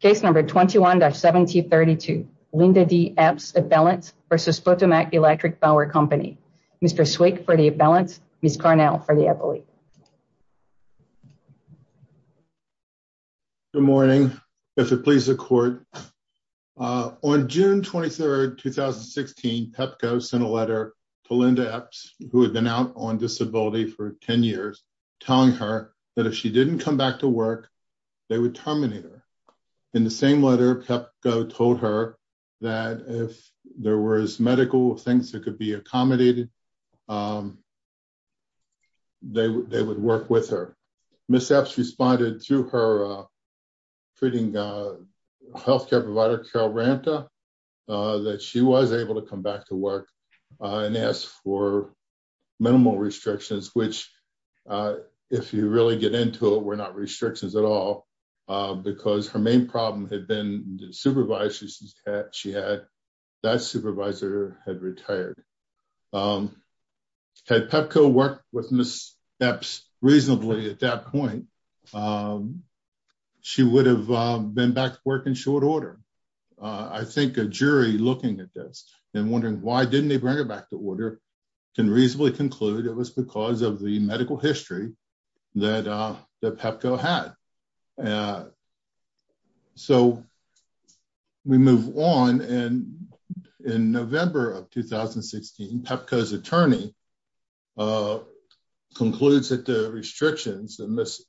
Case number 21-1732, Linda D. Epps, Appellants v. Potomac Electric Power Company. Mr. Swick for the Appellants, Ms. Carnell for the Appellate. Good morning. If it pleases the court, On June 23, 2016, PEPCO sent a letter to Linda Epps, who had been out on disability for 10 years, telling her that if she didn't come back to work, they would terminate her. In the same letter, PEPCO told her that if there were medical things that could be accommodated, they would work with her. Ms. Epps responded through her treating healthcare provider, Carol Branta, that she was able to come back to work and ask for minimal restrictions, which, if you really get into it, were not restrictions at all, because her main problem had been the supervisor she had. That supervisor had retired. Had PEPCO worked with Ms. Epps reasonably at that point, she would have been back to work in short order. I think a jury looking at this and wondering why didn't they bring her back to order can reasonably conclude it was because of the medical history that PEPCO had. So we move on. In November of 2016, PEPCO's attorney concludes that the restrictions that Ms.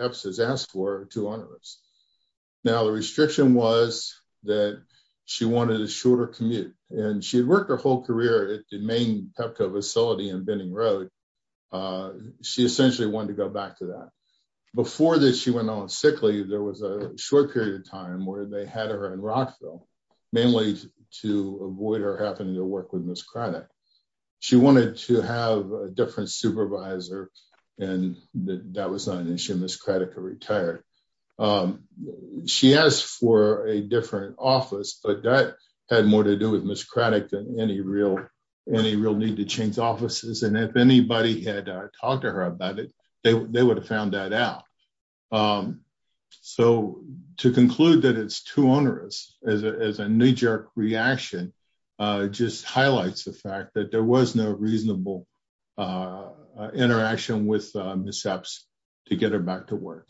Epps has asked for are too onerous. Now, the restriction was that she wanted a shorter commute, and she had worked her whole career at the main PEPCO facility in Benning Road. She essentially wanted to go back to that. Before she went on sick leave, there was a short period of time where they had her in Rockville, mainly to avoid her having to work with Ms. Craddock. She wanted to have a different supervisor, and that was not an issue. Ms. Craddock had retired. She asked for a different office, but that had more to do with Ms. Craddock than any real need to change offices. And if anybody had talked to her about it, they would have found that out. So to conclude that it's too onerous as a knee jerk reaction, just highlights the fact that there was no reasonable interaction with Ms. Epps to get her back to work.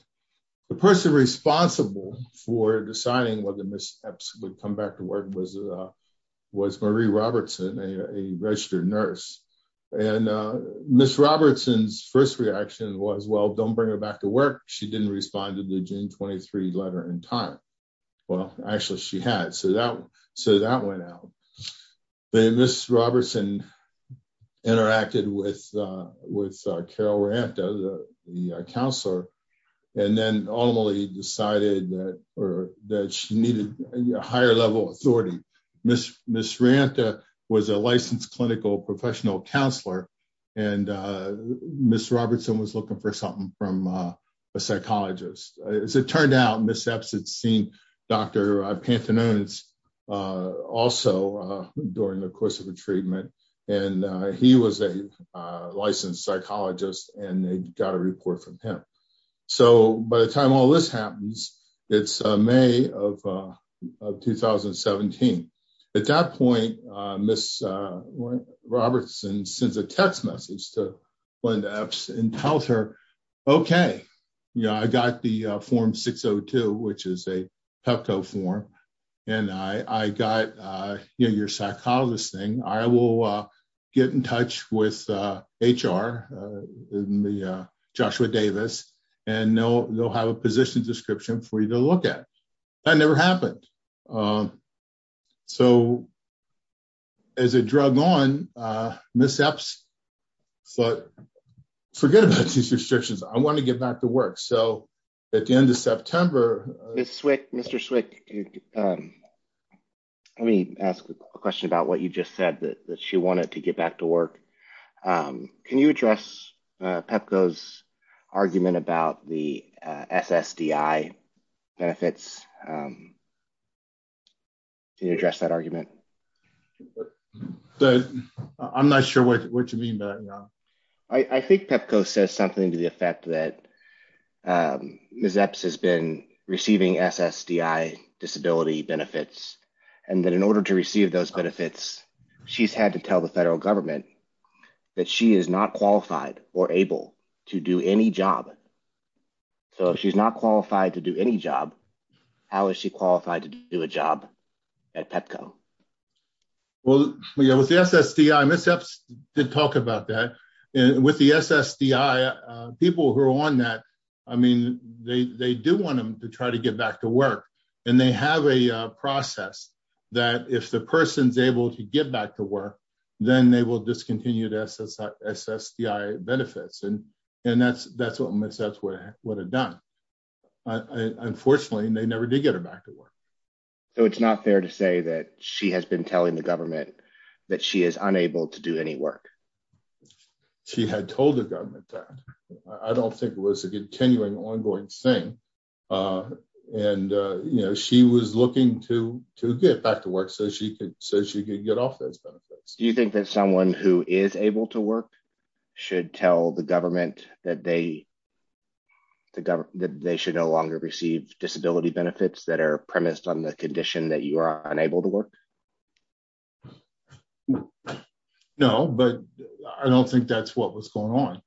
The person responsible for deciding whether Ms. Epps would come back to work was Marie Robertson, a registered nurse. And Ms. Robertson's first reaction was, well, don't bring her back to work. She didn't respond to the June 23 letter in time. Well, actually, she had, so that went out. Ms. Robertson interacted with Carol Ranta, the counselor, and then ultimately decided that she needed a higher level of authority. Ms. Ranta was a licensed clinical professional counselor, and Ms. Robertson was looking for something from a psychologist. As it turned out, Ms. Epps had seen Dr. Pantanones also during the course of her treatment, and he was a licensed psychologist and they got a report from him. So by the time all this happens, it's May of 2017. At that point, Ms. Robertson sends a text message to Linda Epps and tells her, OK, I got the form 602, which is a PEPCO form, and I got your psychologist thing. I will get in touch with HR, Joshua Davis, and they'll have a position description for you to look at. That never happened. So as a drug on, Ms. Epps thought, forget about these restrictions. I want to get back to work. So at the end of September. Mr. Swick, let me ask a question about what you just said, that she wanted to get back to work. Can you address PEPCO's argument about the SSDI benefits? Can you address that argument? I'm not sure what you mean by that. I think PEPCO says something to the effect that Ms. Epps has been receiving SSDI disability benefits and that in order to receive those benefits, she's had to tell the federal government that she is not qualified or able to do any job. So if she's not qualified to do any job, how is she qualified to do a job at PEPCO? Well, with the SSDI, Ms. Epps did talk about that. With the SSDI, people who are on that, I mean, they do want them to try to get back to work. And they have a process that if the person's able to get back to work, then they will discontinue SSDI benefits. And that's what Ms. Epps would have done. Unfortunately, they never did get her back to work. So it's not fair to say that she has been telling the government that she is unable to do any work. She had told the government that. I don't think it was a continuing, ongoing thing. And, you know, she was looking to get back to work so she could get off those benefits. Do you think that someone who is able to work should tell the government that they should no longer receive disability benefits that are premised on the condition that you are unable to work? No, but I don't think that's what was going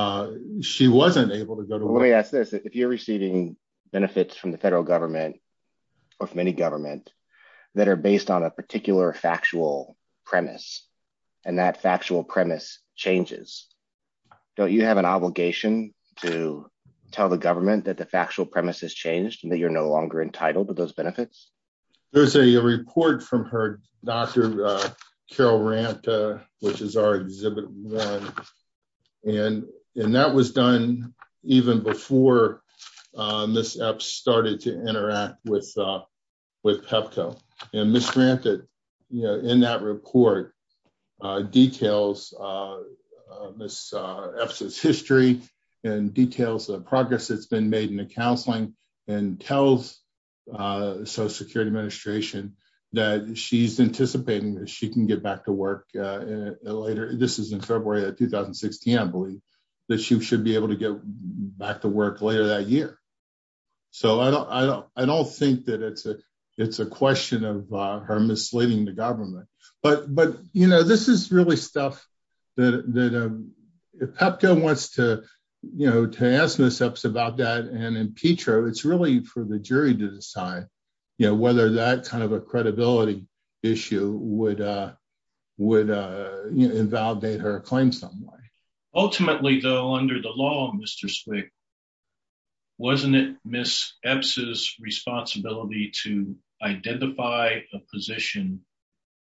on. She wasn't able to go to work. If you're receiving benefits from the federal government or from any government that are based on a particular factual premise and that factual premise changes, don't you have an obligation to tell the government that the factual premise has changed and that you're no longer entitled to those benefits? There's a report from her, Dr. Carol Ranta, which is our exhibit run. And that was done even before Ms. Epps started to interact with PEPCO. And Ms. Ranta, in that report, details Ms. Epps' history and details the progress that's been made in the counseling and tells the Social Security Administration that she's anticipating that she can get back to work later. This is in February of 2016, I believe, that she should be able to get back to work later that year. So I don't think that it's a question of her misleading the government. But this is really stuff that if PEPCO wants to ask Ms. Epps about that and in Petro, it's really for the jury to decide whether that kind of a credibility issue would invalidate her claim some way. Ultimately, though, under the law, Mr. Swick, wasn't it Ms. Epps' responsibility to identify a position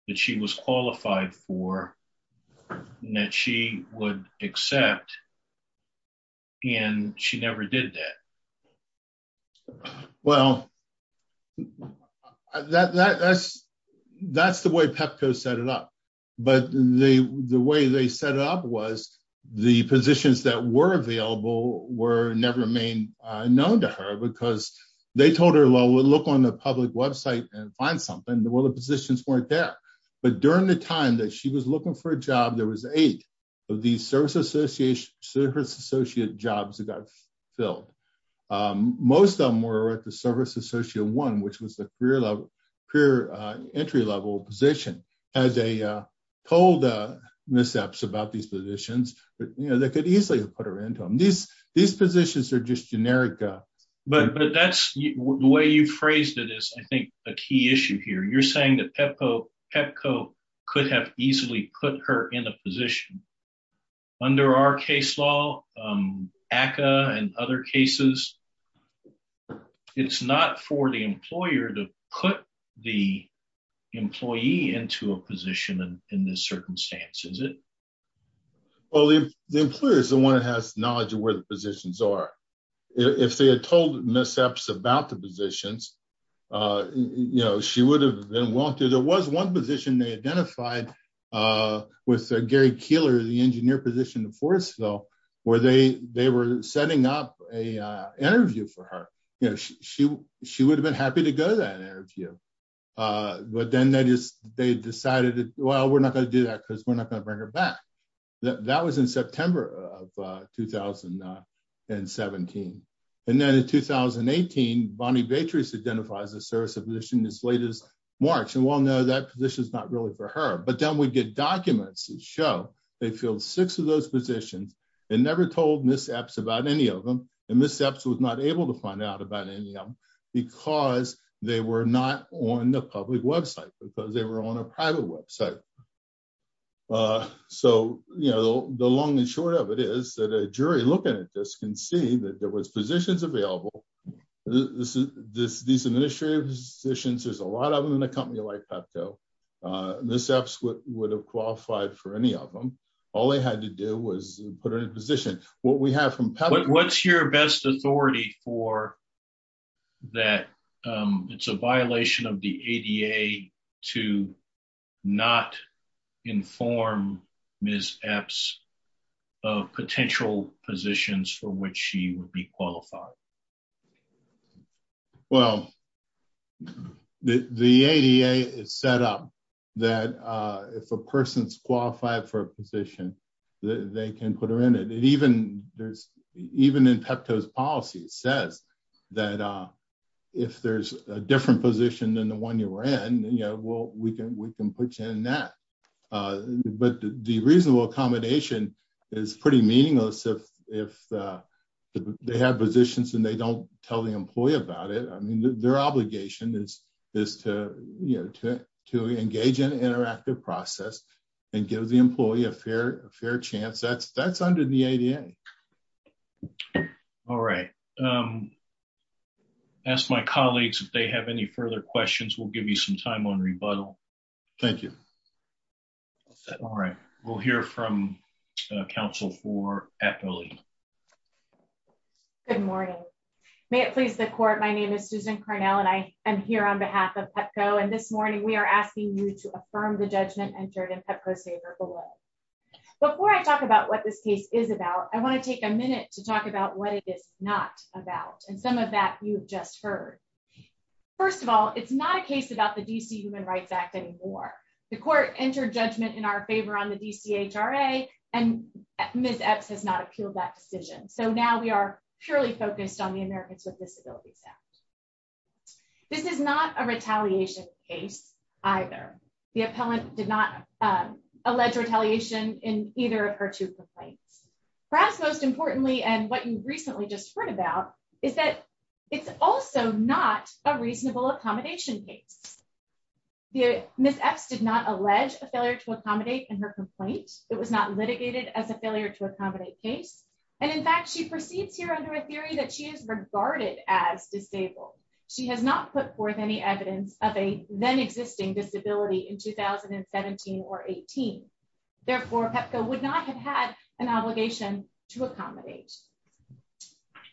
that she was qualified for and that she would accept? And she never did that. Well, that's the way PEPCO set it up. But the way they set it up was the positions that were available were never known to her because they told her, well, we'll look on the public website and find something. Well, the positions weren't there. But during the time that she was looking for a job, there was eight of these service associate jobs that got filled. Most of them were at the service associate one, which was the career entry level position. As they told Ms. Epps about these positions, they could easily have put her into them. These positions are just generic. But that's the way you phrased it is, I think, a key issue here. You're saying that PEPCO could have easily put her in a position. Under our case law, ACCA and other cases, it's not for the employer to put the employee into a position in this circumstance, is it? Well, the employer is the one that has knowledge of where the positions are. If they had told Ms. Epps about the positions, she would have been wanted. There was one position they identified with Gary Keeler, the engineer position in Forestville, where they were setting up an interview for her. She would have been happy to go to that interview. But then they decided, well, we're not going to do that because we're not going to bring her back. That was in September of 2017. And then in 2018, Bonnie Beatrice identifies a service position as late as March. And well, no, that position is not really for her. But then we get documents that show they filled six of those positions and never told Ms. Epps about any of them. And Ms. Epps was not able to find out about any of them because they were not on the public website, because they were on a private website. So, you know, the long and short of it is that a jury looking at this can see that there was positions available. These administrative positions, there's a lot of them in a company like Pepco. Ms. Epps would have qualified for any of them. All they had to do was put her in a position. What's your best authority for that? It's a violation of the ADA to not inform Ms. Epps of potential positions for which she would be qualified. Well, the ADA is set up that if a person is qualified for a position, they can put her in it. Even in Pepco's policy, it says that if there's a different position than the one you were in, we can put you in that. But the reasonable accommodation is pretty meaningless if they have positions and they don't tell the employee about it. Their obligation is to engage in an interactive process and give the employee a fair chance. That's under the ADA. All right. Ask my colleagues if they have any further questions. We'll give you some time on rebuttal. Thank you. All right. We'll hear from counsel for Eppoli. Good morning. May it please the court. My name is Susan Cornell and I am here on behalf of Pepco. And this morning we are asking you to affirm the judgment entered in Pepco's favor below. Before I talk about what this case is about, I want to take a minute to talk about what it is not about and some of that you've just heard. First of all, it's not a case about the D.C. Human Rights Act anymore. The court entered judgment in our favor on the D.C. H.R.A. and Ms. Epps has not appealed that decision. So now we are purely focused on the Americans with Disabilities Act. This is not a retaliation case either. The appellant did not allege retaliation in either of her two complaints. Perhaps most importantly, and what you recently just heard about, is that it's also not a reasonable accommodation case. Ms. Epps did not allege a failure to accommodate in her complaint. It was not litigated as a failure to accommodate case. And in fact, she proceeds here under a theory that she is regarded as disabled. She has not put forth any evidence of a then existing disability in 2017 or 18. Therefore, Pepco would not have had an obligation to accommodate.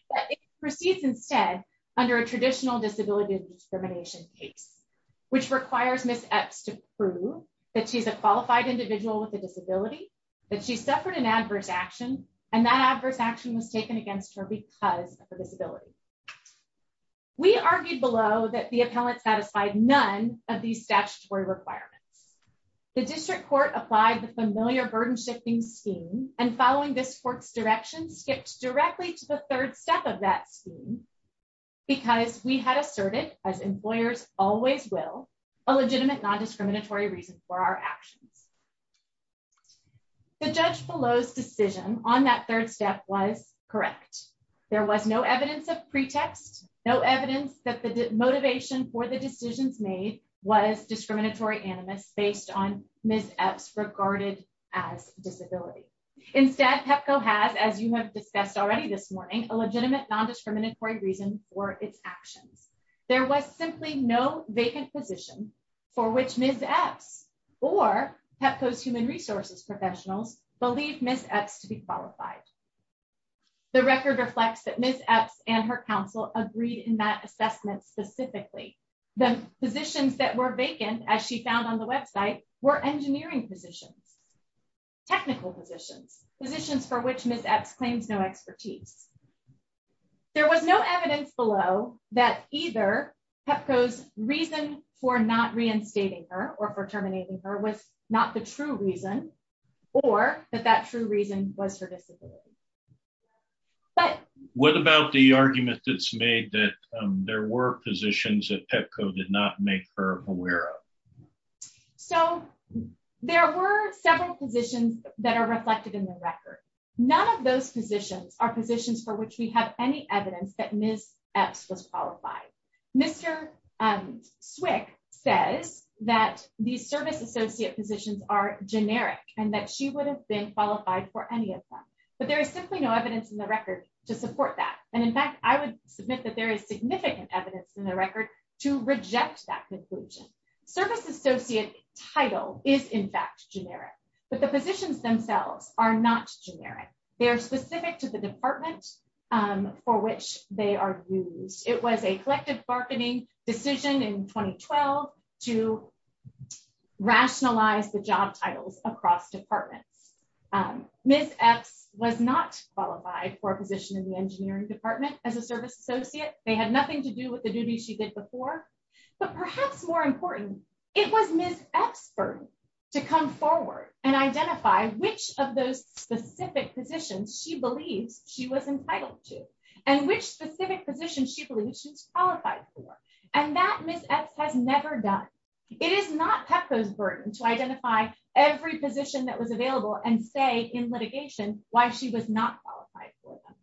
But it proceeds instead under a traditional disability discrimination case. Which requires Ms. Epps to prove that she's a qualified individual with a disability, that she suffered an adverse action, and that adverse action was taken against her because of her disability. We argued below that the appellant satisfied none of these statutory requirements. The district court applied the familiar burden shifting scheme and following this court's direction, skipped directly to the third step of that scheme. Because we had asserted, as employers always will, a legitimate non-discriminatory reason for our actions. The judge below's decision on that third step was correct. There was no evidence of pretext, no evidence that the motivation for the decisions made was discriminatory animus based on Ms. Epps regarded as disability. Instead, Pepco has, as you have discussed already this morning, a legitimate non-discriminatory reason for its actions. There was simply no vacant position for which Ms. Epps or Pepco's human resources professionals believe Ms. Epps to be qualified. The record reflects that Ms. Epps and her counsel agreed in that assessment specifically. The positions that were vacant, as she found on the website, were engineering positions, technical positions, positions for which Ms. Epps claims no expertise. There was no evidence below that either Pepco's reason for not reinstating her or for terminating her was not the true reason, or that that true reason was her disability. What about the argument that's made that there were positions that Pepco did not make her aware of? There were several positions that are reflected in the record. None of those positions are positions for which we have any evidence that Ms. Epps was qualified. Mr. Swick says that these service associate positions are generic and that she would have been qualified for any of them, but there is simply no evidence in the record to support that. In fact, I would submit that there is significant evidence in the record to reject that conclusion. The service associate title is in fact generic, but the positions themselves are not generic. They are specific to the department for which they are used. It was a collective bargaining decision in 2012 to rationalize the job titles across departments. Ms. Epps was not qualified for a position in the engineering department as a service associate. They had nothing to do with the duties she did before, but perhaps more importantly, it was Ms. Epps' burden to come forward and identify which of those specific positions she believes she was entitled to and which specific positions she believes she's qualified for, and that Ms. Epps has never done. It is not Pepco's burden to identify every position that was available and say in litigation why she was not qualified for them.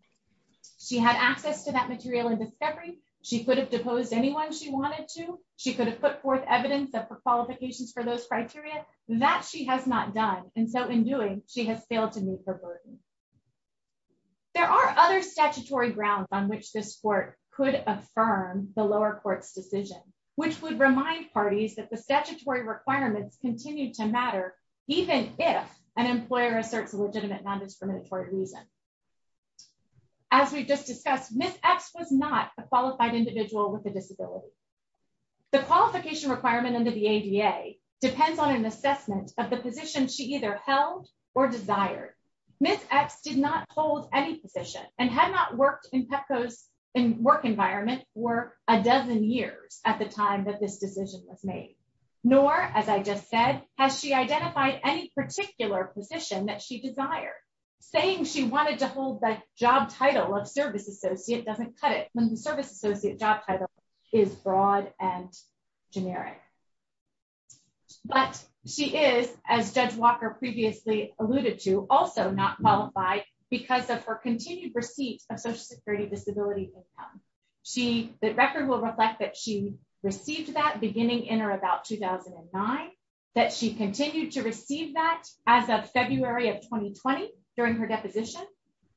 She had access to that material in discovery. She could have deposed anyone she wanted to. She could have put forth evidence of her qualifications for those criteria. That she has not done, and so in doing, she has failed to meet her burden. There are other statutory grounds on which this court could affirm the lower court's decision, which would remind parties that the statutory requirements continue to matter, even if an employer asserts a legitimate non-discriminatory reason. As we've just discussed, Ms. Epps was not a qualified individual with a disability. The qualification requirement under the ADA depends on an assessment of the position she either held or desired. Ms. Epps did not hold any position and had not worked in Pepco's work environment for a dozen years at the time that this decision was made. Nor, as I just said, has she identified any particular position that she desired, saying she wanted to hold the job title of service associate doesn't cut it when the service associate job title is broad and generic. But she is, as Judge Walker previously alluded to, also not qualified because of her continued receipt of Social Security Disability Income. The record will reflect that she received that beginning in or about 2009, that she continued to receive that as of February of 2020 during her deposition,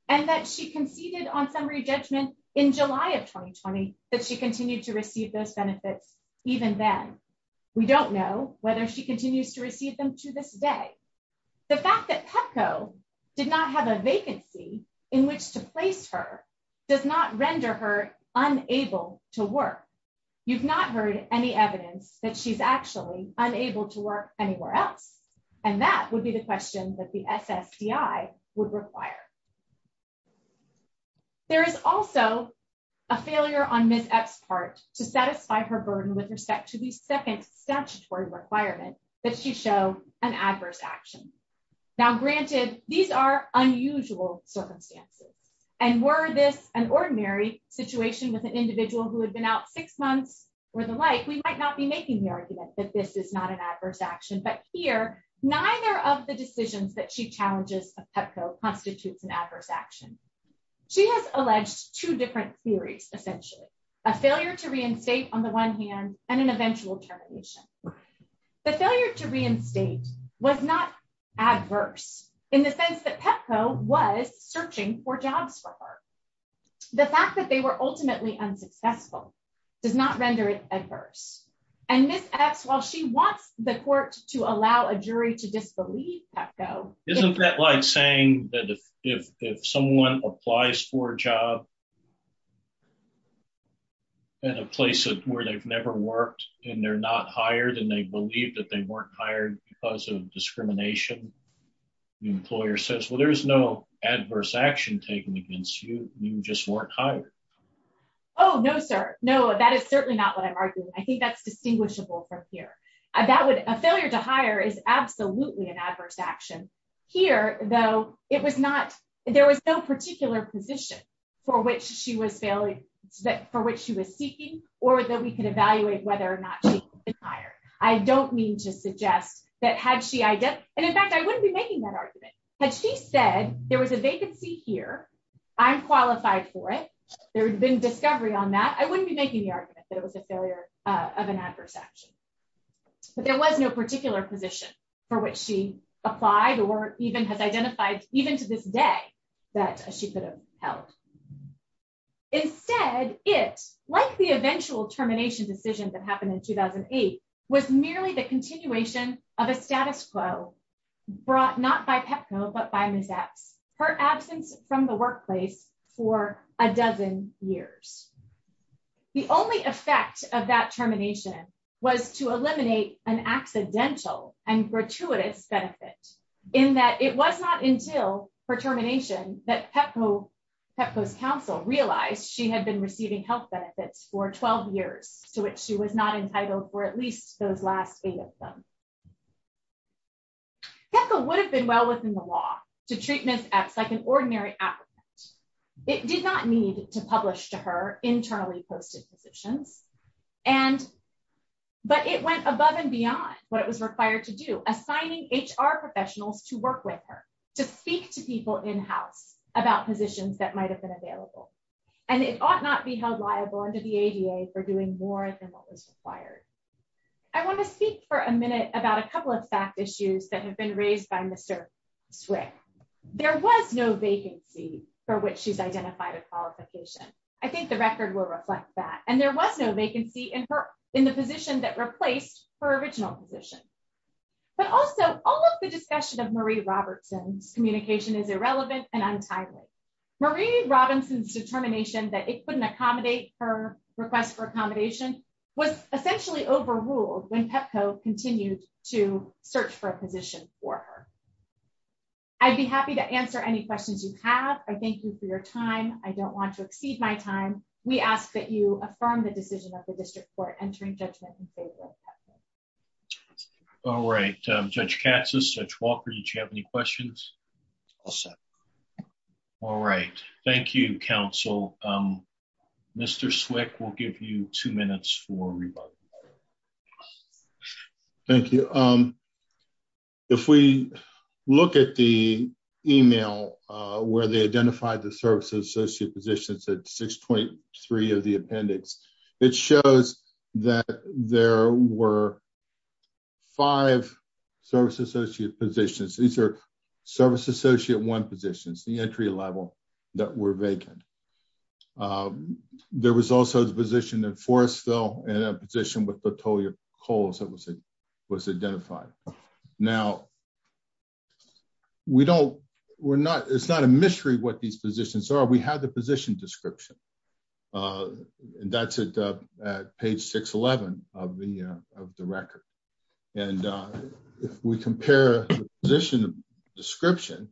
and that she conceded on summary judgment in July of 2020 that she continued to receive those benefits even then. We don't know whether she continues to receive them to this day. The fact that Pepco did not have a vacancy in which to place her does not render her unable to work. You've not heard any evidence that she's actually unable to work anywhere else. And that would be the question that the SSDI would require. There is also a failure on Ms. Epps' part to satisfy her burden with respect to the second statutory requirement that she show an adverse action. Now, granted, these are unusual circumstances. And were this an ordinary situation with an individual who had been out six months or the like, we might not be making the argument that this is not an adverse action. But here, neither of the decisions that she challenges of Pepco constitutes an adverse action. She has alleged two different theories, essentially. A failure to reinstate on the one hand, and an eventual termination. The failure to reinstate was not adverse in the sense that Pepco was searching for jobs for her. The fact that they were ultimately unsuccessful does not render it adverse. And Ms. Epps, while she wants the court to allow a jury to disbelieve Pepco. Isn't that like saying that if someone applies for a job at a place where they've never worked, and they're not hired, and they believe that they weren't hired because of discrimination, the employer says, well, there's no adverse action taken against you. You just weren't hired. Oh, no, sir. No, that is certainly not what I'm arguing. I think that's distinguishable from here. A failure to hire is absolutely an adverse action. Here, though, it was not, there was no particular position for which she was failing, for which she was seeking, or that we could evaluate whether or not she could have been hired. I don't mean to suggest that had she, and in fact, I wouldn't be making that argument. Had she said there was a vacancy here, I'm qualified for it. There would have been discovery on that. I wouldn't be making the argument that it was a failure of an adverse action. But there was no particular position for which she applied or even has identified, even to this day, that she could have held. Instead, it, like the eventual termination decision that happened in 2008, was merely the continuation of a status quo brought not by PEPCO, but by Ms. Epps, her absence from the workplace for a dozen years. The only effect of that termination was to eliminate an accidental and gratuitous benefit, in that it was not until her termination that PEPCO, PEPCO's counsel, realized she had been receiving health benefits for 12 years, to which she was not entitled for at least those last eight of them. PEPCO would have been well within the law to treat Ms. Epps like an ordinary applicant. It did not need to publish to her internally posted positions. And, but it went above and beyond what it was required to do, assigning HR professionals to work with her, to speak to people in-house about positions that might have been available. And it ought not be held liable under the ADA for doing more than what was required. I want to speak for a minute about a couple of fact issues that have been raised by Mr. Swick. There was no vacancy for which she's identified a qualification. I think the record will reflect that. And there was no vacancy in her, in the position that replaced her original position. But also, all of the discussion of Marie Robertson's communication is irrelevant and untimely. Marie Robinson's determination that it couldn't accommodate her request for accommodation was essentially overruled when PEPCO continued to search for a position for her. I'd be happy to answer any questions you have. I thank you for your time. I don't want to exceed my time. We ask that you affirm the decision of the district court entering judgment in favor of PEPCO. All right. Judge Katz, Judge Walker, did you have any questions? All set. All right. Thank you, counsel. Mr. Swick, we'll give you two minutes for rebuttal. Thank you. If we look at the email where they identified the service associate positions at 623 of the appendix, it shows that there were five service associate positions. These are service associate one positions, the entry level, that were vacant. There was also a position at Forest Hill and a position with Petolia Coles that was identified. Now, it's not a mystery what these positions are. We have the position description. That's at page 611 of the record. If we compare the position description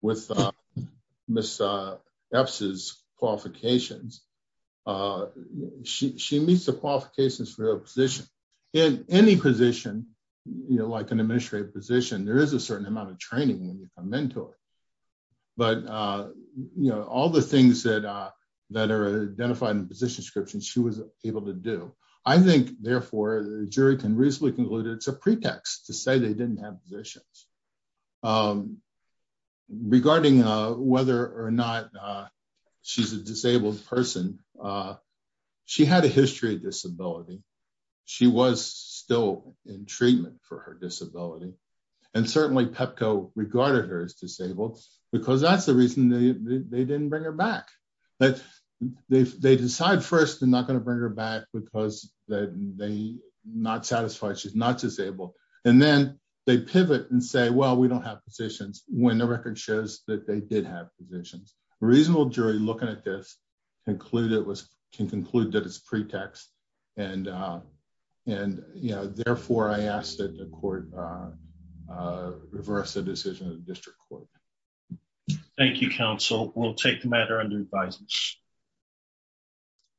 with Ms. Epps' qualifications, she meets the qualifications for her position. In any position, like an administrative position, there is a certain amount of training when you become a mentor. But all the things that are identified in the position description, she was able to do. I think, therefore, the jury can reasonably conclude it's a pretext to say they didn't have positions. Regarding whether or not she's a disabled person, she had a history of disability. She was still in treatment for her disability. And certainly, PEPCO regarded her as disabled because that's the reason they didn't bring her back. They decide first they're not going to bring her back because they're not satisfied she's not disabled. And then they pivot and say, well, we don't have positions, when the record shows that they did have positions. A reasonable jury, looking at this, can conclude that it's a pretext. And, therefore, I ask that the court reverse the decision of the district court. Thank you, counsel. We'll take the matter under advisement.